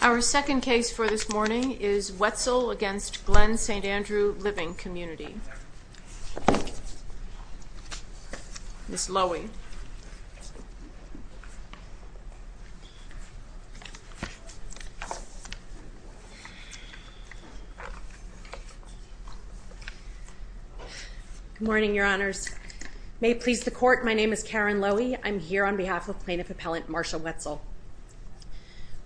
Our second case for this morning is Wetzel v. Glen St. Andrew Living Community. Ms. Lowy. Good morning, Your Honors. May it please the Court, my name is Karen Lowy. I'm here on behalf of Plaintiff Appellant Marsha Wetzel.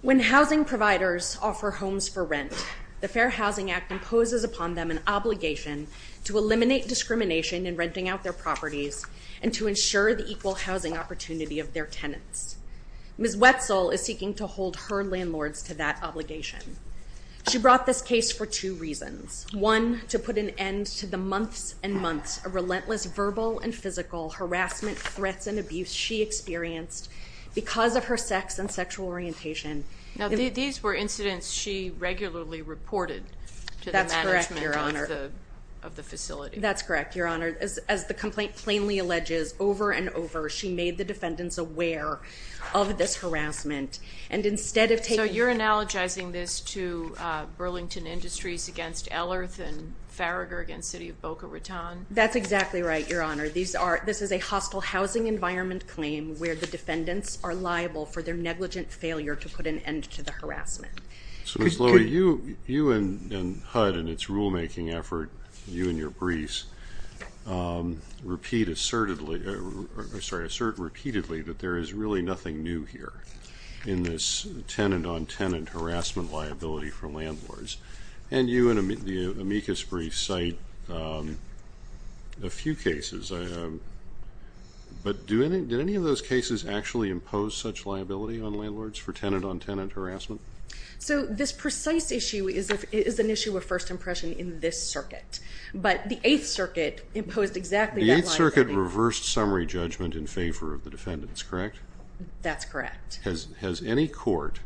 When housing providers offer homes for rent, the Fair Housing Act imposes upon them an obligation to eliminate discrimination in renting out their properties and to ensure the equal housing opportunity of their tenants. Ms. Wetzel is seeking to hold her landlords to that obligation. She brought this case for two reasons. One, to put an end to the months and months of relentless verbal and physical harassment, threats, and abuse she experienced because of her sex and sexual orientation. Now these were incidents she regularly reported to the management of the facility. That's correct, Your Honor. As the complaint plainly alleges, over and over, she made the defendants aware of this harassment. So you're analogizing this to Burlington Industries against Ellerth and Farragher against City of Boca Raton? That's exactly right, Your Honor. This is a hostile housing environment claim where the defendants are liable for their negligent failure to put an end to the harassment. Ms. Lowy, you and HUD in its rulemaking effort, you and your briefs, assert repeatedly that there is really nothing new here in this tenant-on-tenant harassment liability for landlords. And you in the amicus brief cite a few cases. But did any of those cases actually impose such liability on landlords for tenant-on-tenant harassment? So this precise issue is an issue of first impression in this circuit. But the Eighth Circuit imposed exactly that liability. The Eighth Circuit reversed summary judgment in favor of the defendants, correct? That's correct. Has any court,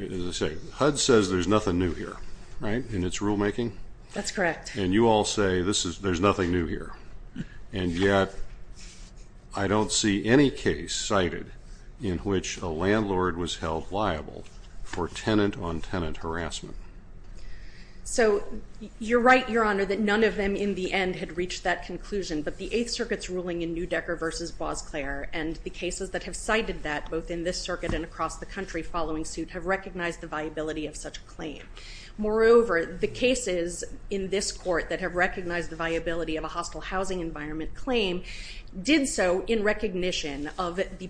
as I say, HUD says there's nothing new here, right, in its rulemaking? That's correct. And you all say there's nothing new here. And yet I don't see any case cited in which a landlord was held liable for tenant-on-tenant harassment. So you're right, Your Honor, that none of them in the end had reached that conclusion. But the Eighth Circuit's ruling in Newdecker v. Boisclair and the cases that have cited that, both in this circuit and across the country following suit, have recognized the viability of such a claim. Moreover, the cases in this court that have recognized the viability of a hostile housing environment claim did so in recognition of the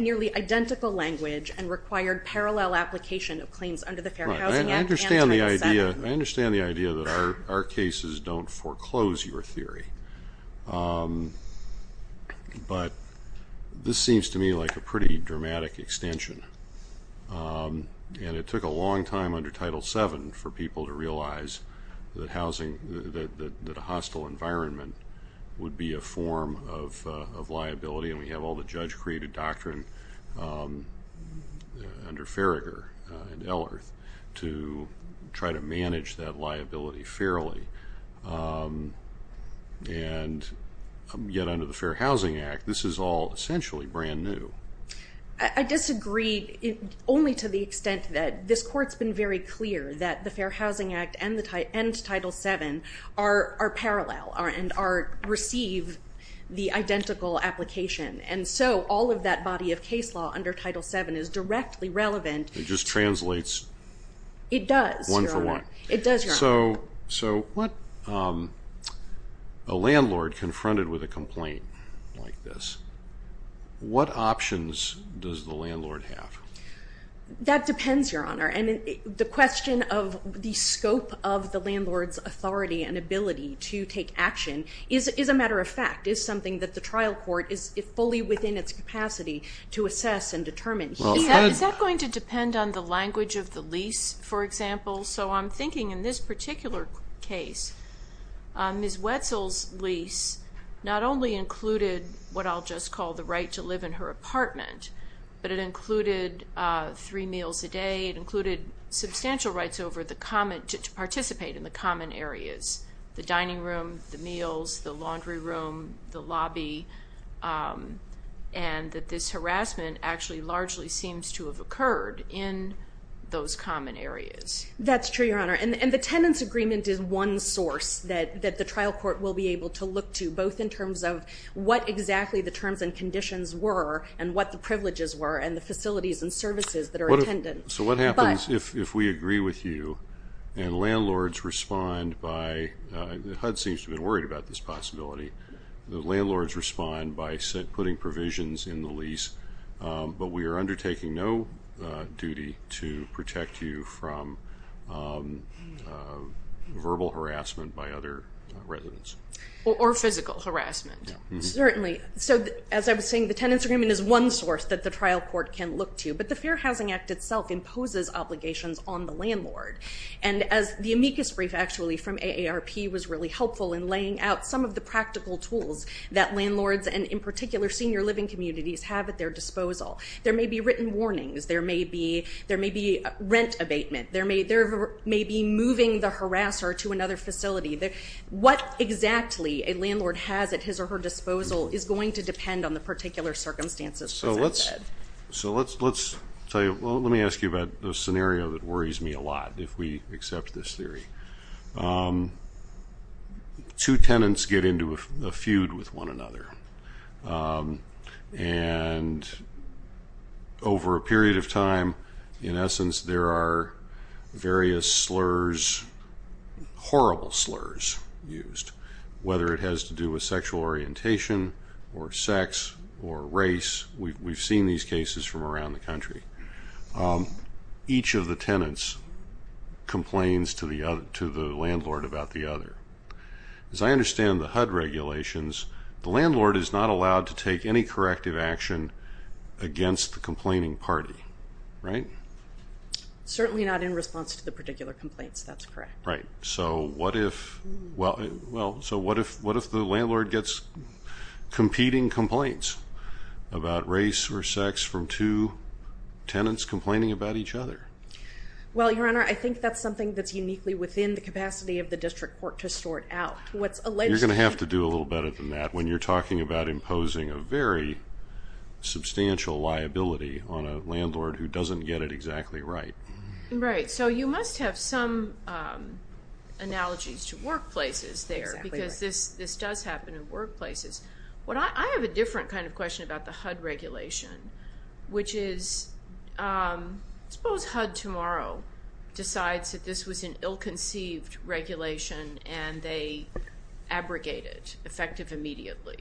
nearly identical language and required parallel application of claims under the Fair Housing Act and Title VII. I understand the idea that our cases don't foreclose your theory. But this seems to me like a pretty dramatic extension. And it took a long time under Title VII for people to realize that a hostile environment would be a form of liability. And we have all the judge-created doctrine under Farragher and Ellerth to try to manage that liability fairly. And yet under the Fair Housing Act, this is all essentially brand new. I disagree only to the extent that this Court's been very clear that the Fair Housing Act and Title VII are parallel and receive the identical application. And so all of that body of case law under Title VII is directly relevant. It just translates one for one. It does, Your Honor. So a landlord confronted with a complaint like this, what options does the landlord have? That depends, Your Honor. And the question of the scope of the landlord's authority and ability to take action is a matter of fact, is something that the trial court is fully within its capacity to assess and determine. Is that going to depend on the language of the lease, for example? So I'm thinking in this particular case, Ms. Wetzel's lease not only included what I'll just call the right to live in her apartment, but it included three meals a day, it included substantial rights to participate in the common areas, the dining room, the meals, the laundry room, the lobby, and that this harassment actually largely seems to have occurred in those common areas. That's true, Your Honor. And the tenant's agreement is one source that the trial court will be able to look to, both in terms of what exactly the terms and conditions were and what the privileges were and the facilities and services that are intended. So what happens if we agree with you and landlords respond by, HUD seems to be worried about this possibility, the landlords respond by putting provisions in the lease, but we are undertaking no duty to protect you from verbal harassment by other residents? Or physical harassment, certainly. So as I was saying, the tenant's agreement is one source that the trial court can look to, but the Fair Housing Act itself imposes obligations on the landlord. And as the amicus brief actually from AARP was really helpful in laying out some of the practical tools that landlords and in particular senior living communities have at their disposal, there may be written warnings, there may be rent abatement, there may be moving the harasser to another facility. What exactly a landlord has at his or her disposal is going to depend on the particular circumstances, as I said. So let's tell you, well, let me ask you about the scenario that worries me a lot, if we accept this theory. Two tenants get into a feud with one another. And over a period of time, in essence, there are various slurs, horrible slurs used, whether it has to do with sexual orientation or sex or race. We've seen these cases from around the country. Each of the tenants complains to the landlord about the other. As I understand the HUD regulations, the landlord is not allowed to take any corrective action against the complaining party, right? Certainly not in response to the particular complaints, that's correct. Right. So what if the landlord gets competing complaints about race or sex from two tenants complaining about each other? Well, Your Honor, I think that's something that's uniquely within the capacity of the district court to sort out. You're going to have to do a little better than that when you're talking about imposing a very substantial liability on a landlord who doesn't get it exactly right. Right. So you must have some analogies to workplaces there. Exactly. Because this does happen in workplaces. I have a different kind of question about the HUD regulation, which is suppose HUD tomorrow decides that this was an ill-conceived regulation and they abrogate it effective immediately.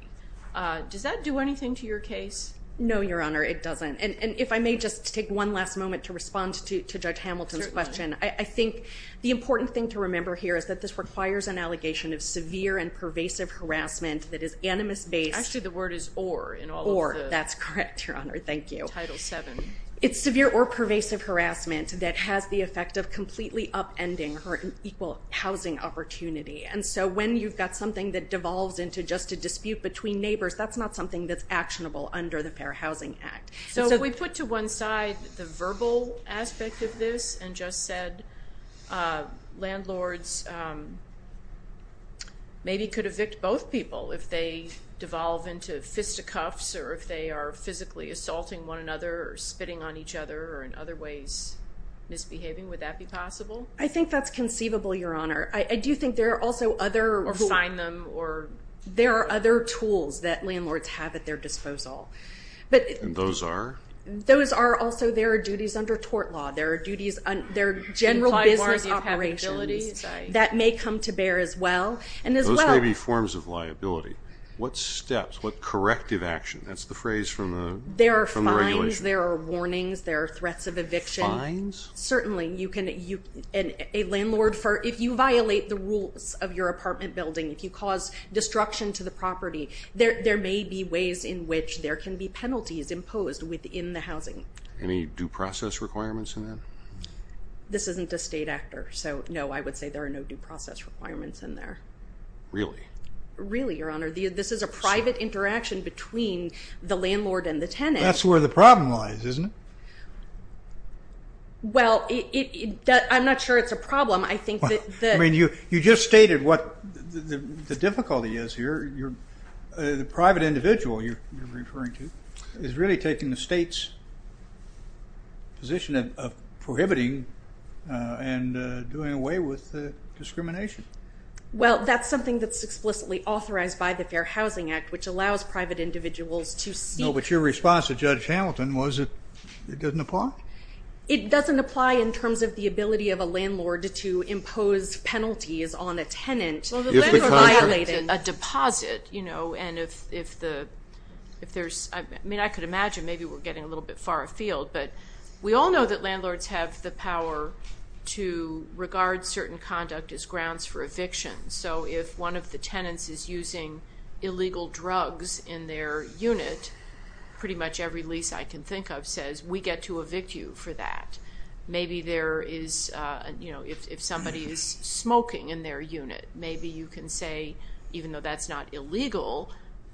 Does that do anything to your case? No, Your Honor, it doesn't. And if I may just take one last moment to respond to Judge Hamilton's question, I think the important thing to remember here is that this requires an allegation of severe and pervasive harassment that is animus based. Actually, the word is or in all of the- Or, that's correct, Your Honor, thank you. Title VII. It's severe or pervasive harassment that has the effect of completely upending her equal housing opportunity. And so when you've got something that devolves into just a dispute between neighbors, that's not something that's actionable under the Fair Housing Act. So if we put to one side the verbal aspect of this and just said landlords maybe could evict both people if they devolve into fisticuffs or if they are physically assaulting one another or spitting on each other or in other ways misbehaving, would that be possible? I think that's conceivable, Your Honor. I do think there are also other- Or who? There are other tools that landlords have at their disposal. And those are? Those are also there are duties under tort law. There are general business operations that may come to bear as well. Those may be forms of liability. What steps? What corrective action? That's the phrase from the regulation. There are fines. There are warnings. There are threats of eviction. Fines? Certainly. A landlord, if you violate the rules of your apartment building, if you cause destruction to the property, there may be ways in which there can be penalties imposed within the housing. Any due process requirements in that? This isn't a state actor. So, no, I would say there are no due process requirements in there. Really? Really, Your Honor. This is a private interaction between the landlord and the tenant. That's where the problem lies, isn't it? Well, I'm not sure it's a problem. I mean, you just stated what the difficulty is here. The private individual you're referring to is really taking the state's position of prohibiting and doing away with discrimination. Well, that's something that's explicitly authorized by the Fair Housing Act, which allows private individuals to seek. No, but your response to Judge Hamilton was it doesn't apply? It doesn't apply in terms of the ability of a landlord to impose penalties on a tenant. Well, the landlord violated a deposit, you know, and if there's, I mean, I could imagine maybe we're getting a little bit far afield, but we all know that landlords have the power to regard certain conduct as grounds for eviction. So if one of the tenants is using illegal drugs in their unit, pretty much every lease I can think of says we get to evict you for that. Maybe there is, you know, if somebody is smoking in their unit, maybe you can say, even though that's not illegal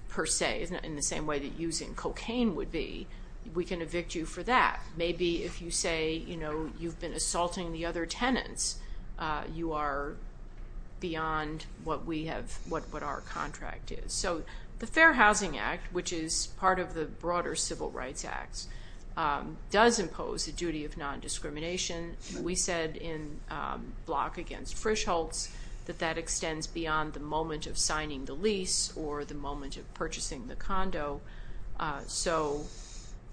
per se, in the same way that using cocaine would be, we can evict you for that. Maybe if you say, you know, you've been assaulting the other tenants, you are beyond what we have, what our contract is. So the Fair Housing Act, which is part of the broader Civil Rights Act, does impose the duty of non-discrimination. We said in Block Against Frischholz that that extends beyond the moment of signing the lease or the moment of purchasing the condo. So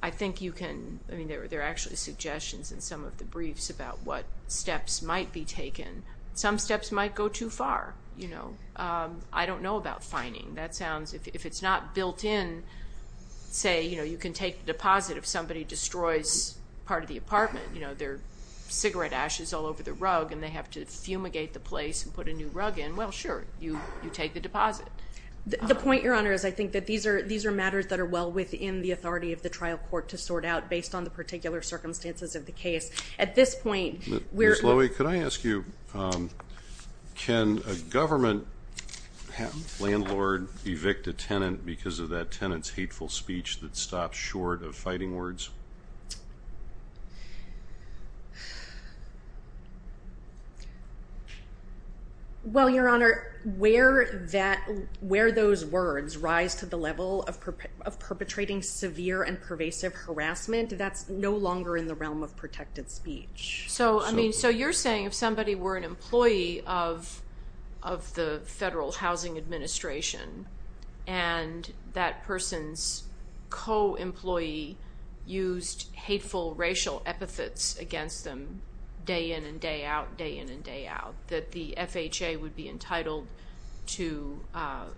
I think you can, I mean, there are actually suggestions in some of the briefs about what steps might be taken. Some steps might go too far, you know. I don't know about fining. That sounds, if it's not built in, say, you know, you can take the deposit if somebody destroys part of the apartment. You know, there are cigarette ashes all over the rug and they have to fumigate the place and put a new rug in. Well, sure, you take the deposit. The point, Your Honor, is I think that these are matters that are well within the authority of the trial court to sort out, based on the particular circumstances of the case. At this point, we're- Ms. Lowy, could I ask you, can a government landlord evict a tenant because of that tenant's hateful speech that stops short of fighting words? Well, Your Honor, where that, where those words rise to the level of perpetrating severe and pervasive harassment, that's no longer in the realm of protected speech. So, I mean, so you're saying if somebody were an employee of the Federal Housing Administration and that person's co-employee used hateful racial epithets against them day in and day out, day in and day out, that the FHA would be entitled to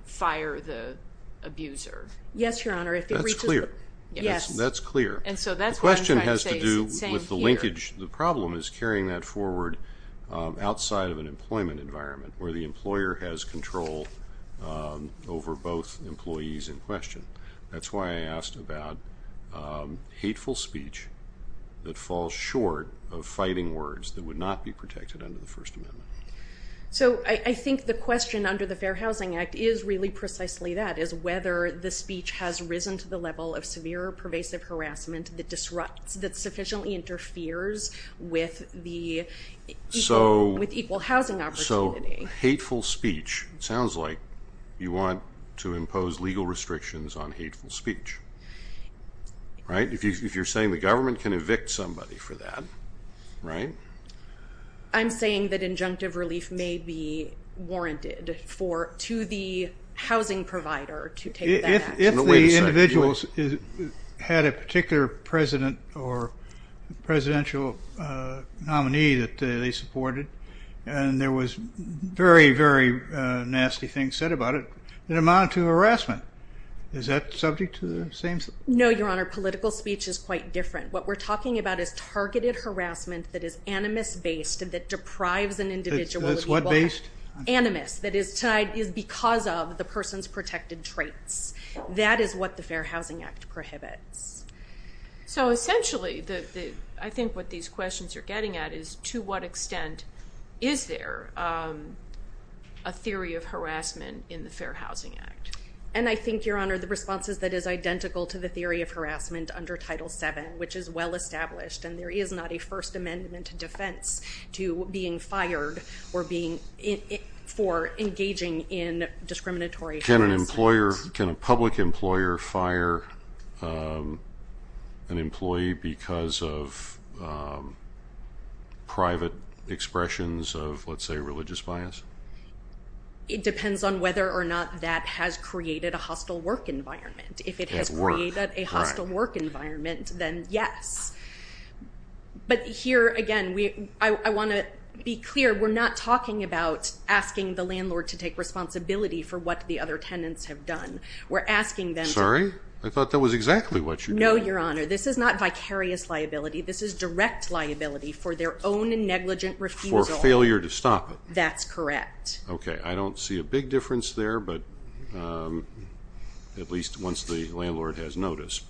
fire the abuser? Yes, Your Honor. That's clear. Yes. That's clear. And so that's what I'm trying to say here. The question has to do with the linkage. The problem is carrying that forward outside of an employment environment, where the employer has control over both employees in question. That's why I asked about hateful speech that falls short of fighting words that would not be protected under the First Amendment. So, I think the question under the Fair Housing Act is really precisely that, is whether the speech has risen to the level of severe or pervasive harassment that disrupts, that sufficiently interferes with the equal housing opportunity. So, hateful speech, it sounds like you want to impose legal restrictions on hateful speech, right? If you're saying the government can evict somebody for that, right? I'm saying that injunctive relief may be warranted to the housing provider to take that action. If the individuals had a particular president or presidential nominee that they supported, and there was very, very nasty things said about it, it amounted to harassment. Is that subject to the same? No, Your Honor. Political speech is quite different. What we're talking about is targeted harassment that is animus-based and that deprives an individual. That's what based? Animus. That is because of the person's protected traits. That is what the Fair Housing Act prohibits. So, essentially, I think what these questions are getting at is to what extent is there a theory of harassment in the Fair Housing Act? And I think, Your Honor, the response is that it is identical to the theory of harassment under Title VII, which is well-established, and there is not a First Amendment defense to being fired for engaging in discriminatory harassment. Can a public employer fire an employee because of private expressions of, let's say, religious bias? It depends on whether or not that has created a hostile work environment. If it has created a hostile work environment, then yes. But here, again, I want to be clear. We're not talking about asking the landlord to take responsibility for what the other tenants have done. We're asking them to ---- Sorry? I thought that was exactly what you were doing. No, Your Honor. This is not vicarious liability. This is direct liability for their own negligent refusal. For failure to stop it. That's correct. Okay. I don't see a big difference there, but at least once the landlord has notice.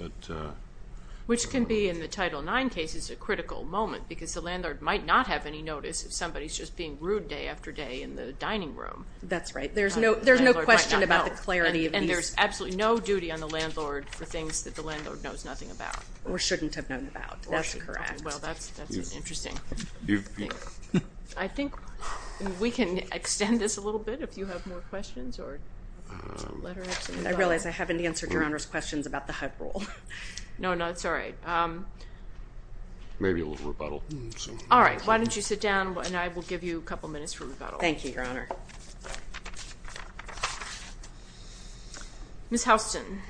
Which can be, in the Title IX cases, a critical moment because the landlord might not have any notice if somebody's just being rude day after day in the dining room. That's right. There's no question about the clarity of these. And there's absolutely no duty on the landlord for things that the landlord knows nothing about. Or shouldn't have known about. That's correct. Well, that's interesting. I think we can extend this a little bit if you have more questions. I realize I haven't answered Your Honor's questions about the HUD rule. No, no. It's all right. Maybe a little rebuttal. All right. Why don't you sit down and I will give you a couple minutes for rebuttal. Thank you, Your Honor. Ms. Houston.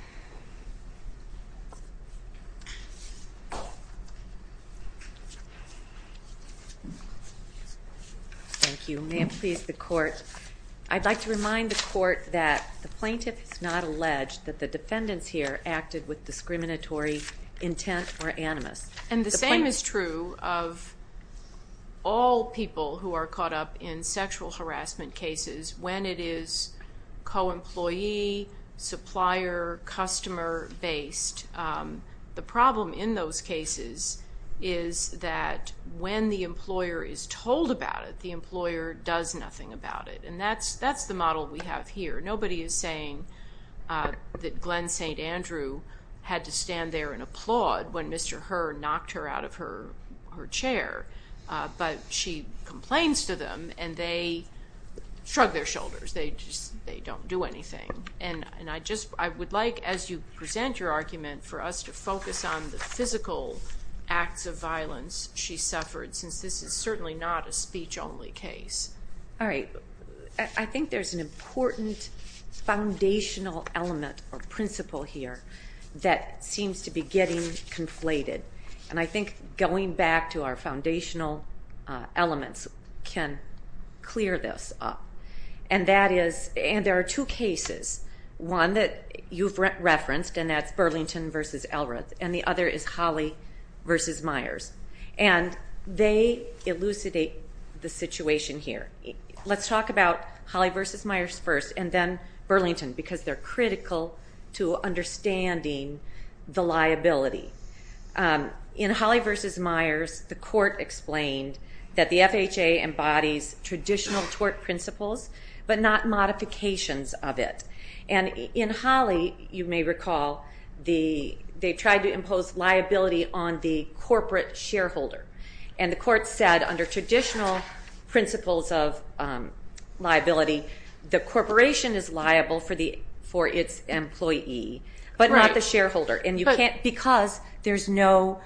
Thank you. May it please the Court. I'd like to remind the Court that the plaintiff is not alleged that the defendants here acted with discriminatory intent or animus. And the same is true of all people who are caught up in sexual harassment cases when it is co-employee, supplier, customer-based. The problem in those cases is that when the employer is told about it, the employer does nothing about it. And that's the model we have here. Nobody is saying that Glenn St. Andrew had to stand there and applaud when Mr. Herr knocked her out of her chair. But she complains to them and they shrug their shoulders. They don't do anything. And I would like, as you present your argument, for us to focus on the physical acts of violence she suffered, since this is certainly not a speech-only case. All right. I think there's an important foundational element or principle here that seems to be getting conflated. And I think going back to our foundational elements can clear this up. And that is, and there are two cases. One that you've referenced, and that's Burlington v. Elrath, and the other is Holly v. Myers. And they elucidate the situation here. Let's talk about Holly v. Myers first, and then Burlington, because they're critical to understanding the liability. In Holly v. Myers, the court explained that the FHA embodies traditional tort principles, but not modifications of it. And in Holly, you may recall, they tried to impose liability on the corporate shareholder. And the court said under traditional principles of liability, the corporation is liable for its employee, but not the shareholder. Because there's no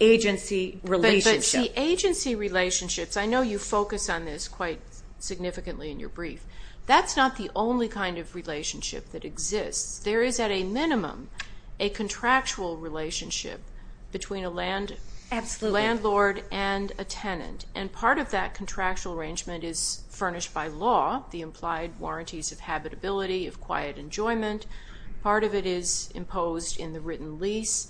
agency relationship. But the agency relationships, I know you focus on this quite significantly in your brief. That's not the only kind of relationship that exists. There is, at a minimum, a contractual relationship between a landlord and a tenant. And part of that contractual arrangement is furnished by law, the implied warranties of habitability, of quiet enjoyment. Part of it is imposed in the written lease.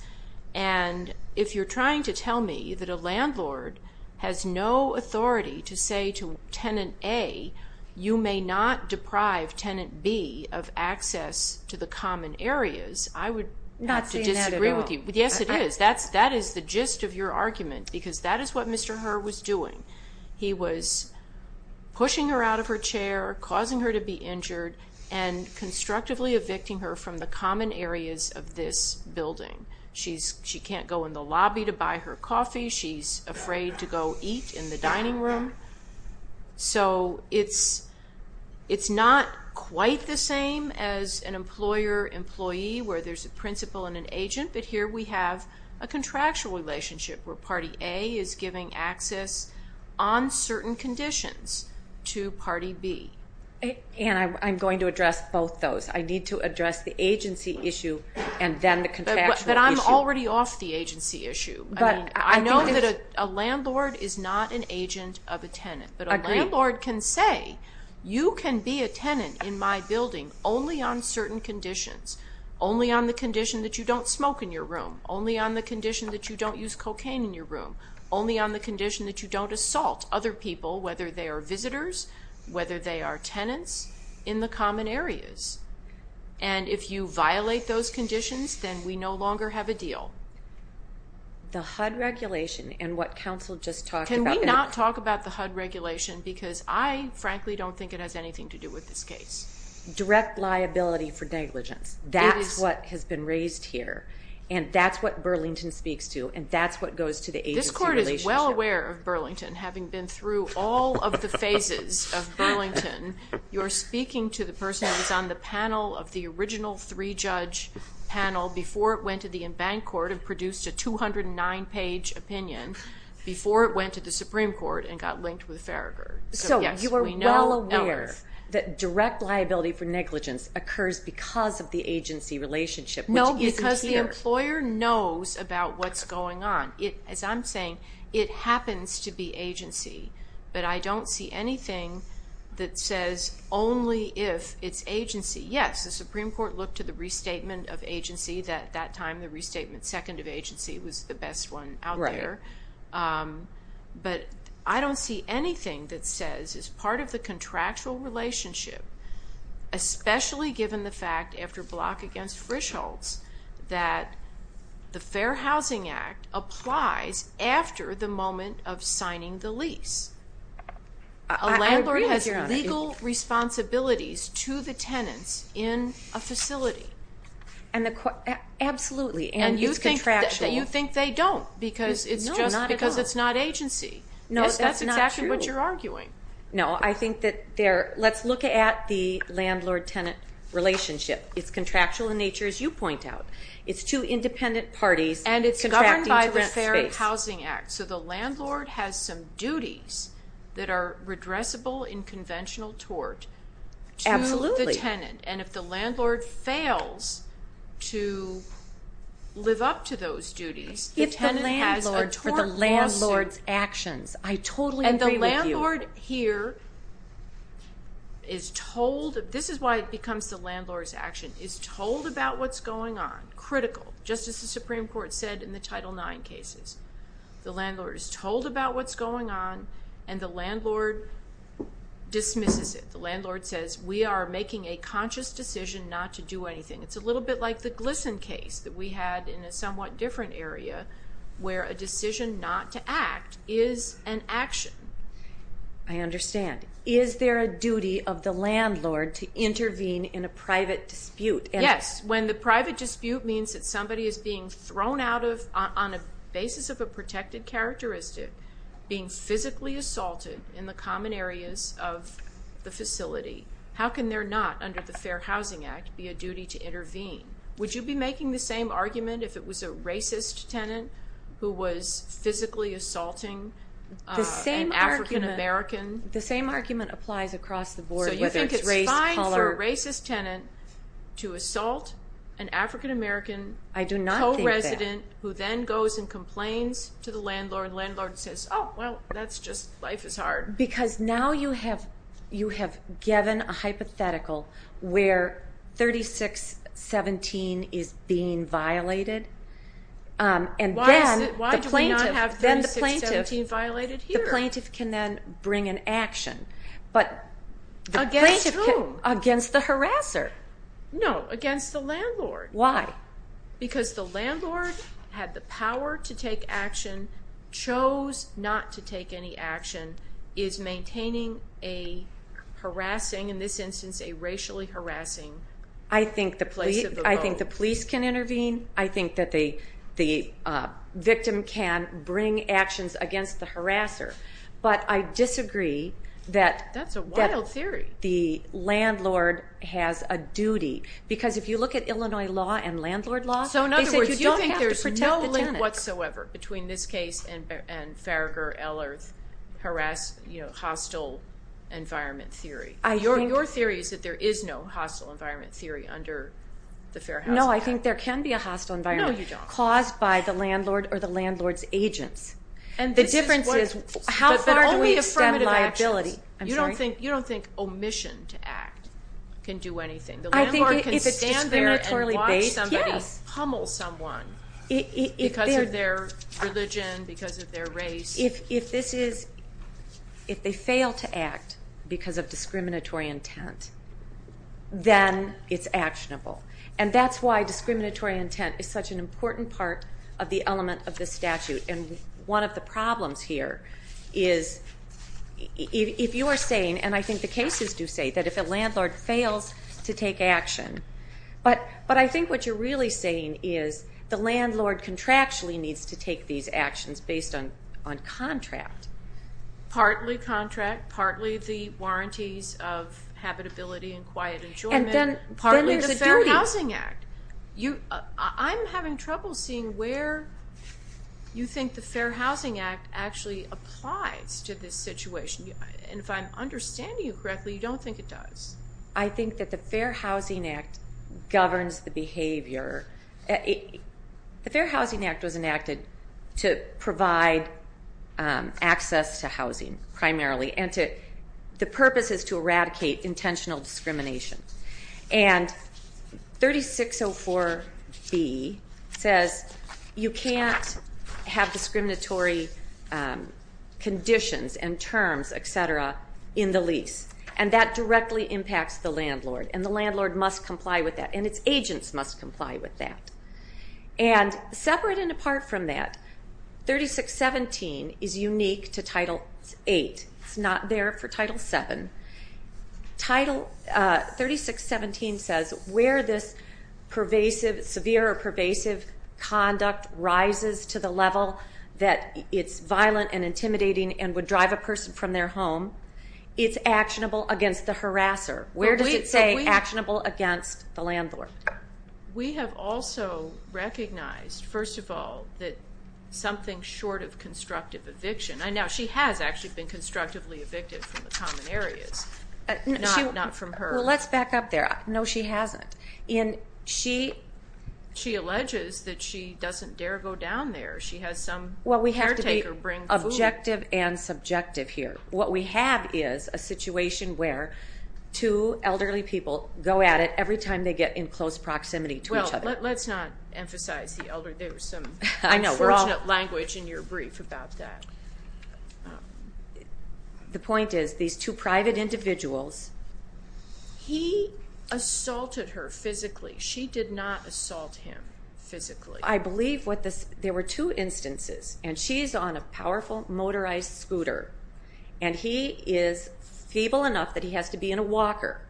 And if you're trying to tell me that a landlord has no authority to say to tenant A, you may not deprive tenant B of access to the common areas, I would disagree with you. Not seeing that at all. Yes, it is. That is the gist of your argument, because that is what Mr. Herr was doing. He was pushing her out of her chair, causing her to be injured, and constructively evicting her from the common areas of this building. She can't go in the lobby to buy her coffee. She's afraid to go eat in the dining room. So it's not quite the same as an employer-employee where there's a principal and an agent. But here we have a contractual relationship where party A is giving access on certain conditions to party B. And I'm going to address both those. I need to address the agency issue and then the contractual issue. But I'm already off the agency issue. I know that a landlord is not an agent of a tenant. Agreed. But a landlord can say, you can be a tenant in my building only on certain conditions, only on the condition that you don't smoke in your room, only on the condition that you don't use cocaine in your room, only on the condition that you don't assault other people, whether they are visitors, whether they are tenants, in the common areas. And if you violate those conditions, then we no longer have a deal. The HUD regulation and what counsel just talked about. Can we not talk about the HUD regulation? Because I, frankly, don't think it has anything to do with this case. Direct liability for negligence. That's what has been raised here. And that's what Burlington speaks to. And that's what goes to the agency relationship. This Court is well aware of Burlington. Having been through all of the phases of Burlington, you're speaking to the person who was on the panel of the original three-judge panel before it went to the Embankment Court and produced a 209-page opinion before it went to the Supreme Court and got linked with Farragher. So you are well aware that direct liability for negligence occurs because of the agency relationship, which isn't here. No, because the employer knows about what's going on. As I'm saying, it happens to be agency. But I don't see anything that says only if it's agency. Yes, the Supreme Court looked at the restatement of agency. At that time, the restatement second of agency was the best one out there. But I don't see anything that says it's part of the contractual relationship, especially given the fact, after block against Frischholz, that the Fair Housing Act applies after the moment of signing the lease. A landlord has legal responsibilities to the tenants in a facility. Absolutely, and it's contractual. You think they don't because it's just because it's not agency. No, that's not true. That's exactly what you're arguing. No, I think that let's look at the landlord-tenant relationship. It's contractual in nature, as you point out. It's two independent parties contracting to rent space. And it's governed by the Fair Housing Act, so the landlord has some duties that are redressable in conventional tort to the tenant. Absolutely. And if the landlord fails to live up to those duties, the tenant has a tort lawsuit. If the landlord or the landlord's actions. I totally agree with you. And the landlord here is told, this is why it becomes the landlord's action, is told about what's going on, critical, just as the Supreme Court said in the Title IX cases. The landlord is told about what's going on, and the landlord dismisses it. The landlord says, we are making a conscious decision not to do anything. It's a little bit like the Glisson case that we had in a somewhat different area where a decision not to act is an action. I understand. Is there a duty of the landlord to intervene in a private dispute? Yes, when the private dispute means that somebody is being thrown out of, on the basis of a protected characteristic, being physically assaulted in the common areas of the facility, how can there not, under the Fair Housing Act, be a duty to intervene? Would you be making the same argument if it was a racist tenant who was physically assaulting an African-American? The same argument applies across the board, whether it's race, color. So you think it's fine for a racist tenant to assault an African-American co-resident. I do not think that. A co-resident who then goes and complains to the landlord, and the landlord says, oh, well, that's just life is hard. Because now you have given a hypothetical where 3617 is being violated. Why do we not have 3617 violated here? The plaintiff can then bring an action. Against whom? Against the harasser. No, against the landlord. Why? Because the landlord had the power to take action, chose not to take any action, is maintaining a harassing, in this instance a racially harassing, place of the vote. I think the police can intervene. I think that the victim can bring actions against the harasser. But I disagree that the landlord has a duty. Because if you look at Illinois law and landlord law, they said you don't have to protect the tenant. So, in other words, you think there's no link whatsoever between this case and Farragher, Ehlers, harass, you know, hostile environment theory. Your theory is that there is no hostile environment theory under the Fair Housing Act. No, I think there can be a hostile environment. No, you don't. Caused by the landlord or the landlord's agents. The difference is how far do we extend liability. You don't think omission to act can do anything. The landlord can stand there and watch somebody pummel someone because of their religion, because of their race. If they fail to act because of discriminatory intent, then it's actionable. And that's why discriminatory intent is such an important part of the element of this statute. And one of the problems here is if you are saying, and I think the cases do say, that if a landlord fails to take action, but I think what you're really saying is the landlord contractually needs to take these actions based on contract. Partly contract, partly the warranties of habitability and quiet enjoyment. And then partly the Fair Housing Act. I'm having trouble seeing where you think the Fair Housing Act actually applies to this situation. And if I'm understanding you correctly, you don't think it does. I think that the Fair Housing Act governs the behavior. The Fair Housing Act was enacted to provide access to housing primarily, and the purpose is to eradicate intentional discrimination. And 3604B says you can't have discriminatory conditions and terms, et cetera, in the lease. And that directly impacts the landlord, and the landlord must comply with that, and its agents must comply with that. And separate and apart from that, 3617 is unique to Title VIII. It's not there for Title VII. Title 3617 says where this pervasive, severe or pervasive conduct rises to the level that it's violent and intimidating and would drive a person from their home, it's actionable against the harasser. Where does it say actionable against the landlord? We have also recognized, first of all, that something short of constructive eviction, and now she has actually been constructively evicted from the common areas, not from her. Well, let's back up there. No, she hasn't. She alleges that she doesn't dare go down there. She has some caretaker bring food. Well, we have to be objective and subjective here. What we have is a situation where two elderly people go at it every time they get in close proximity to each other. Well, let's not emphasize the elderly. There was some unfortunate language in your brief about that. The point is these two private individuals. He assaulted her physically. She did not assault him physically. I believe there were two instances, and she's on a powerful motorized scooter, and he is feeble enough that he has to be in a walker,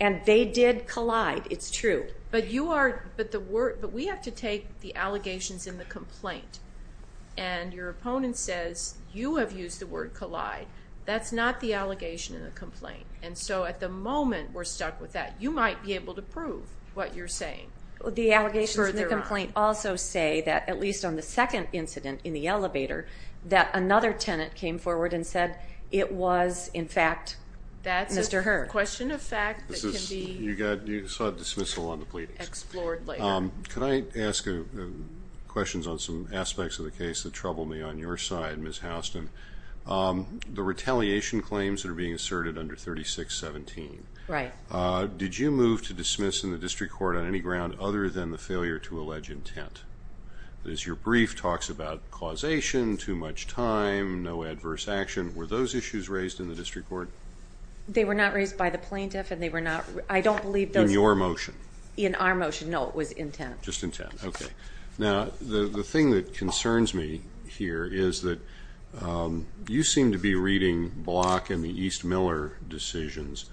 and they did collide. It's true. But we have to take the allegations in the complaint, and your opponent says you have used the word collide. That's not the allegation in the complaint. And so at the moment we're stuck with that. You might be able to prove what you're saying. The allegations in the complaint also say that, at least on the second incident in the elevator, that another tenant came forward and said it was, in fact, Mr. Herr. A question of fact that can be explored later. Could I ask questions on some aspects of the case that trouble me on your side, Ms. Houston? The retaliation claims that are being asserted under 3617, did you move to dismiss in the district court on any ground other than the failure to allege intent? As your brief talks about causation, too much time, no adverse action, were those issues raised in the district court? They were not raised by the plaintiff. I don't believe those were. In your motion? In our motion. No, it was intent. Just intent. Okay. Now, the thing that concerns me here is that you seem to be reading Block and the East Miller decisions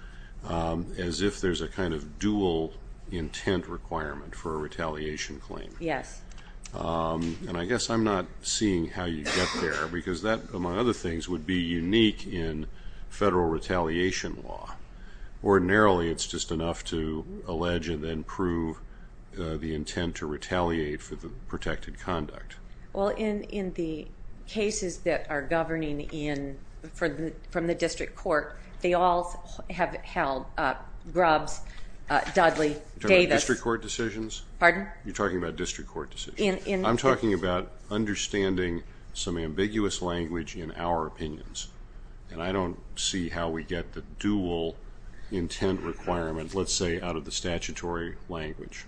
as if there's a kind of dual intent requirement for a retaliation claim. Yes. And I guess I'm not seeing how you get there, because that, among other things, would be unique in federal retaliation law. Ordinarily, it's just enough to allege and then prove the intent to retaliate for the protected conduct. Well, in the cases that are governing from the district court, they all have held Grubbs, Dudley, Davis. You're talking about district court decisions? Pardon? You're talking about district court decisions. I'm talking about understanding some ambiguous language in our opinions, and I don't see how we get the dual intent requirement, let's say, out of the statutory language.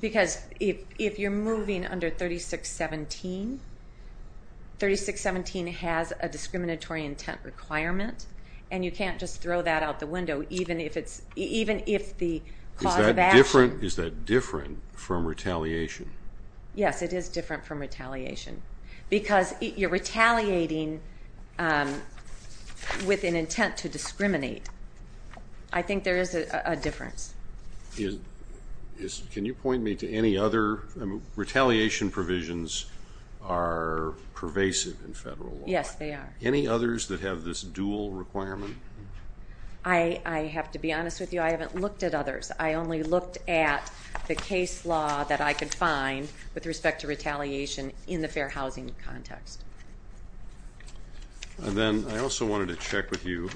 Because if you're moving under 3617, 3617 has a discriminatory intent requirement, and you can't just throw that out the window, even if the cause of action Is that different from retaliation? Yes, it is different from retaliation. Because you're retaliating with an intent to discriminate. I think there is a difference. Can you point me to any other? Retaliation provisions are pervasive in federal law. Yes, they are. Any others that have this dual requirement? I have to be honest with you. I haven't looked at others. I only looked at the case law that I could find with respect to retaliation in the fair housing context. And then I also wanted to check with you.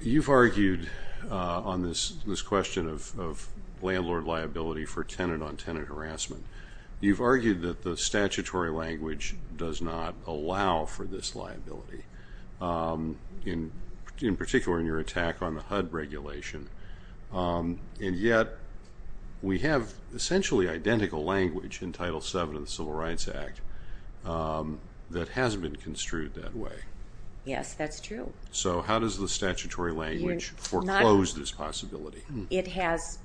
You've argued on this question of landlord liability for tenant-on-tenant harassment. You've argued that the statutory language does not allow for this liability, in particular in your attack on the HUD regulation. And yet, we have essentially identical language in Title VII of the Civil Rights Act that hasn't been construed that way. Yes, that's true. So how does the statutory language foreclose this possibility? It has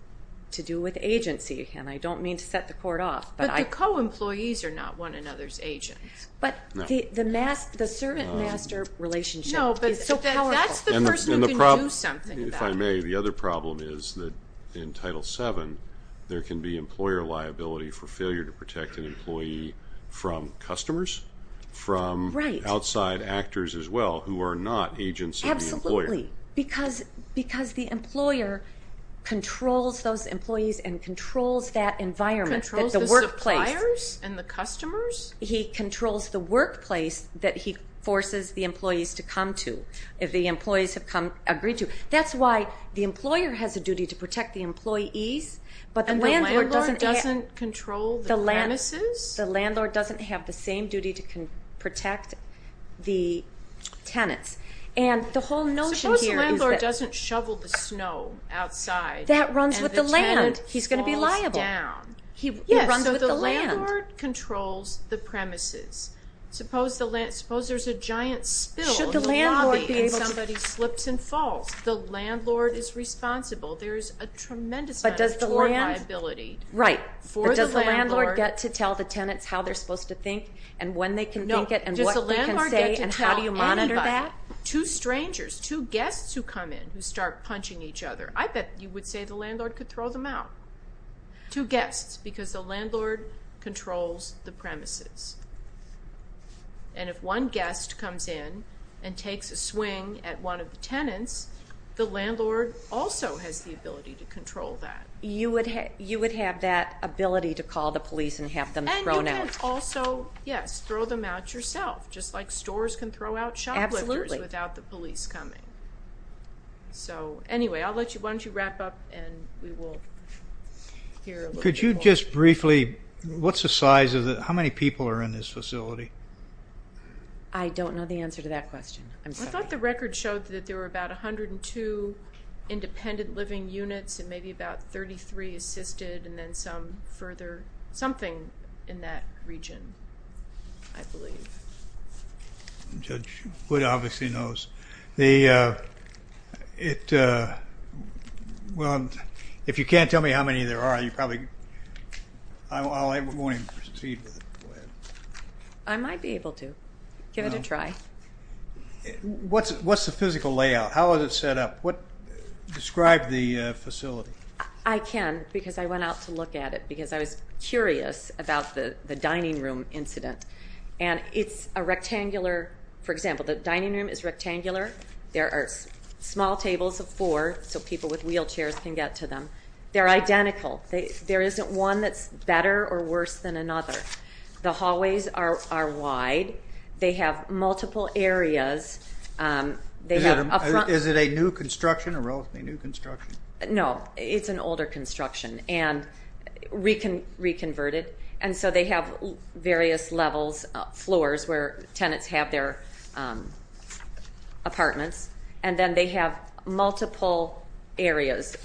to do with agency, and I don't mean to set the court off. But the co-employees are not one another's agents. But the servant-master relationship is so powerful. No, but that's the person who can do something about it. If I may, the other problem is that in Title VII, there can be employer liability for failure to protect an employee from customers, from outside actors as well who are not agents of the employer. Absolutely, because the employer controls those employees and controls that environment. Controls the suppliers and the customers? He controls the workplace that he forces the employees to come to, if the employees have agreed to. That's why the employer has a duty to protect the employees, but the landlord doesn't. And the landlord doesn't control the premises? The landlord doesn't have the same duty to protect the tenants. And the whole notion here is that. Suppose the landlord doesn't shovel the snow outside. That runs with the land. And the tenant falls down. He's going to be liable. He runs with the land. The landlord controls the premises. Suppose there's a giant spill in the lobby and somebody slips and falls. The landlord is responsible. There is a tremendous amount of employer liability for the landlord. Right, but does the landlord get to tell the tenants how they're supposed to think and when they can think it and what they can say and how do you monitor that? No, does the landlord get to tell anybody? Two strangers, two guests who come in who start punching each other. I bet you would say the landlord could throw them out. Two guests because the landlord controls the premises. And if one guest comes in and takes a swing at one of the tenants, the landlord also has the ability to control that. You would have that ability to call the police and have them thrown out. And you can also, yes, throw them out yourself, just like stores can throw out shoplifters without the police coming. So, anyway, why don't you wrap up and we will hear a little bit more. Could you just briefly, what's the size of the, how many people are in this facility? I don't know the answer to that question. I'm sorry. I thought the record showed that there were about 102 independent living units and maybe about 33 assisted and then some further something in that region, I believe. Judge Wood obviously knows. The, it, well, if you can't tell me how many there are, you probably, I won't even proceed with it. Go ahead. I might be able to. Give it a try. What's the physical layout? How is it set up? Describe the facility. I can because I went out to look at it because I was curious about the dining room incident. And it's a rectangular, for example, the dining room is rectangular. There are small tables of four so people with wheelchairs can get to them. They're identical. There isn't one that's better or worse than another. The hallways are wide. They have multiple areas. Is it a new construction or relatively new construction? No, it's an older construction and reconverted. And so they have various levels, floors where tenants have their apartments. And then they have multiple areas,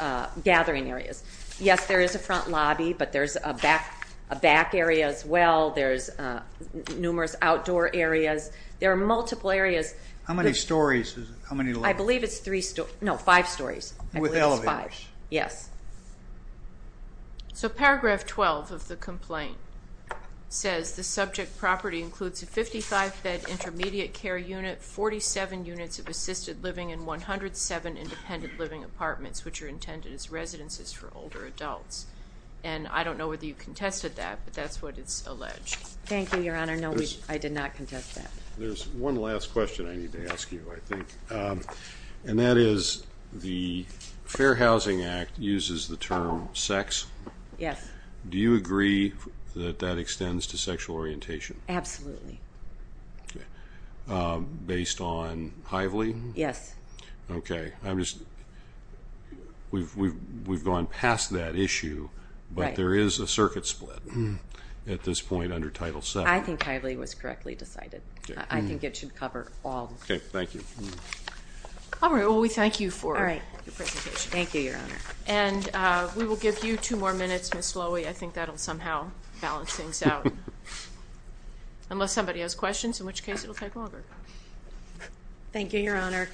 gathering areas. Yes, there is a front lobby, but there's a back area as well. There's numerous outdoor areas. There are multiple areas. How many stories? How many levels? I believe it's three, no, five stories. With elevators? Yes. So Paragraph 12 of the complaint says, the subject property includes a 55-bed intermediate care unit, 47 units of assisted living, and 107 independent living apartments, which are intended as residences for older adults. And I don't know whether you contested that, but that's what it's alleged. Thank you, Your Honor. No, I did not contest that. There's one last question I need to ask you, I think. And that is, the Fair Housing Act uses the term sex. Yes. Do you agree that that extends to sexual orientation? Absolutely. Based on Hively? Yes. Okay. We've gone past that issue, but there is a circuit split at this point under Title VII. I think Hively was correctly decided. I think it should cover all. Okay. Thank you. All right. Well, we thank you for your presentation. Thank you, Your Honor. And we will give you two more minutes, Ms. Lowy. I think that will somehow balance things out. Unless somebody has questions, in which case it will take longer. Thank you, Your Honor.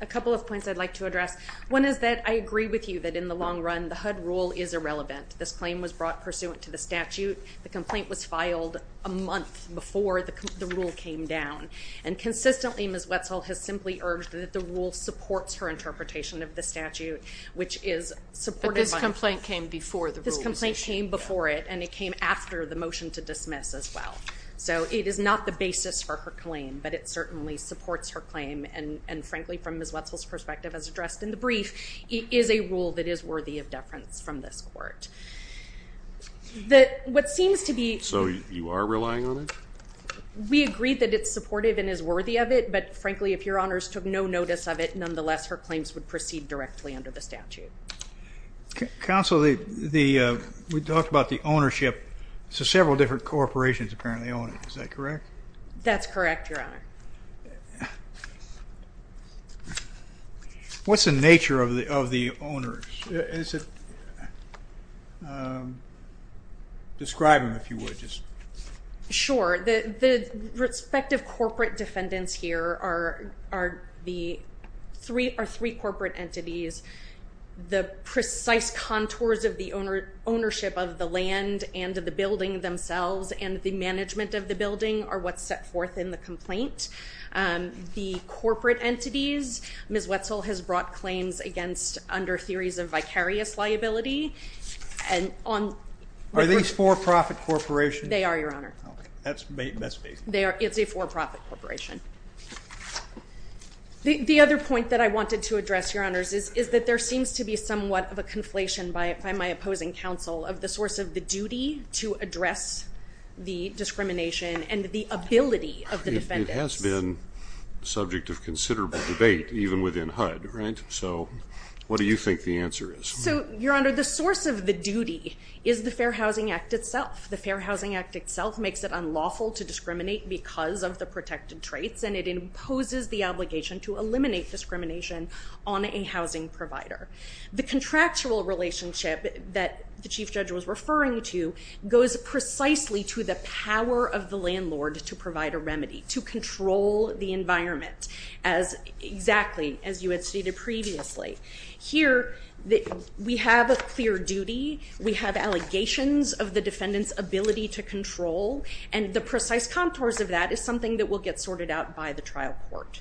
A couple of points I'd like to address. One is that I agree with you that in the long run the HUD rule is irrelevant. This claim was brought pursuant to the statute. The complaint was filed a month before the rule came down. And consistently, Ms. Wetzel has simply urged that the rule supports her interpretation of the statute, which is supported by the statute. But this complaint came before the rule was issued. This complaint came before it, and it came after the motion to dismiss as well. So it is not the basis for her claim, but it certainly supports her claim. And, frankly, from Ms. Wetzel's perspective, as addressed in the brief, it is a rule that is worthy of deference from this Court. So you are relying on it? We agree that it's supportive and is worthy of it. But, frankly, if Your Honors took no notice of it, nonetheless her claims would proceed directly under the statute. Counsel, we talked about the ownership. So several different corporations apparently own it. Is that correct? That's correct, Your Honor. What's the nature of the owners? Describe them, if you would. Sure. The respective corporate defendants here are three corporate entities. The precise contours of the ownership of the land and of the building themselves and the management of the building are what's set forth in the complaint. The corporate entities, Ms. Wetzel has brought claims against under theories of vicarious liability. Are these for-profit corporations? They are, Your Honor. That's amazing. It's a for-profit corporation. The other point that I wanted to address, Your Honors, is that there seems to be somewhat of a conflation by my opposing counsel of the source of the duty to address the discrimination and the ability of the defendants. It has been subject of considerable debate, even within HUD, right? So what do you think the answer is? Your Honor, the source of the duty is the Fair Housing Act itself. The Fair Housing Act itself makes it unlawful to discriminate because of the protected traits, and it imposes the obligation to eliminate discrimination on a housing provider. The contractual relationship that the Chief Judge was referring to goes precisely to the power of the landlord to provide a remedy, to control the environment, exactly as you had stated previously. Here, we have a clear duty. We have allegations of the defendant's ability to control, and the precise contours of that is something that will get sorted out by the trial court.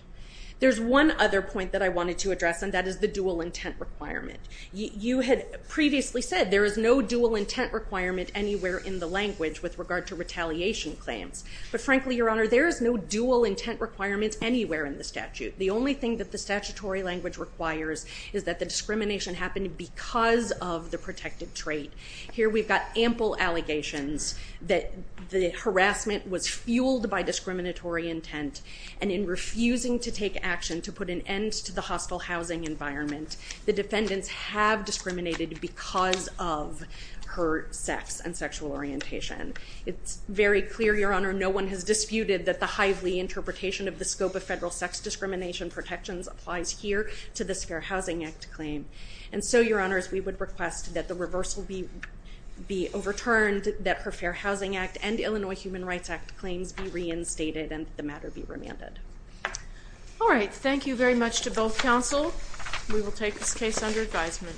There's one other point that I wanted to address, and that is the dual intent requirement. You had previously said there is no dual intent requirement anywhere in the language with regard to retaliation claims. But frankly, Your Honor, there is no dual intent requirement anywhere in the statute. The only thing that the statutory language requires is that the discrimination happen because of the protected trait. Here we've got ample allegations that the harassment was fueled by discriminatory intent, and in refusing to take action to put an end to the hostile housing environment, the defendants have discriminated because of her sex and sexual orientation. It's very clear, Your Honor, no one has disputed that the highly interpretation of the scope of federal sex discrimination protections applies here to this Fair Housing Act claim. And so, Your Honors, we would request that the reversal be overturned, that her Fair Housing Act and Illinois Human Rights Act claims be reinstated and the matter be remanded. All right, thank you very much to both counsel. We will take this case under advisement.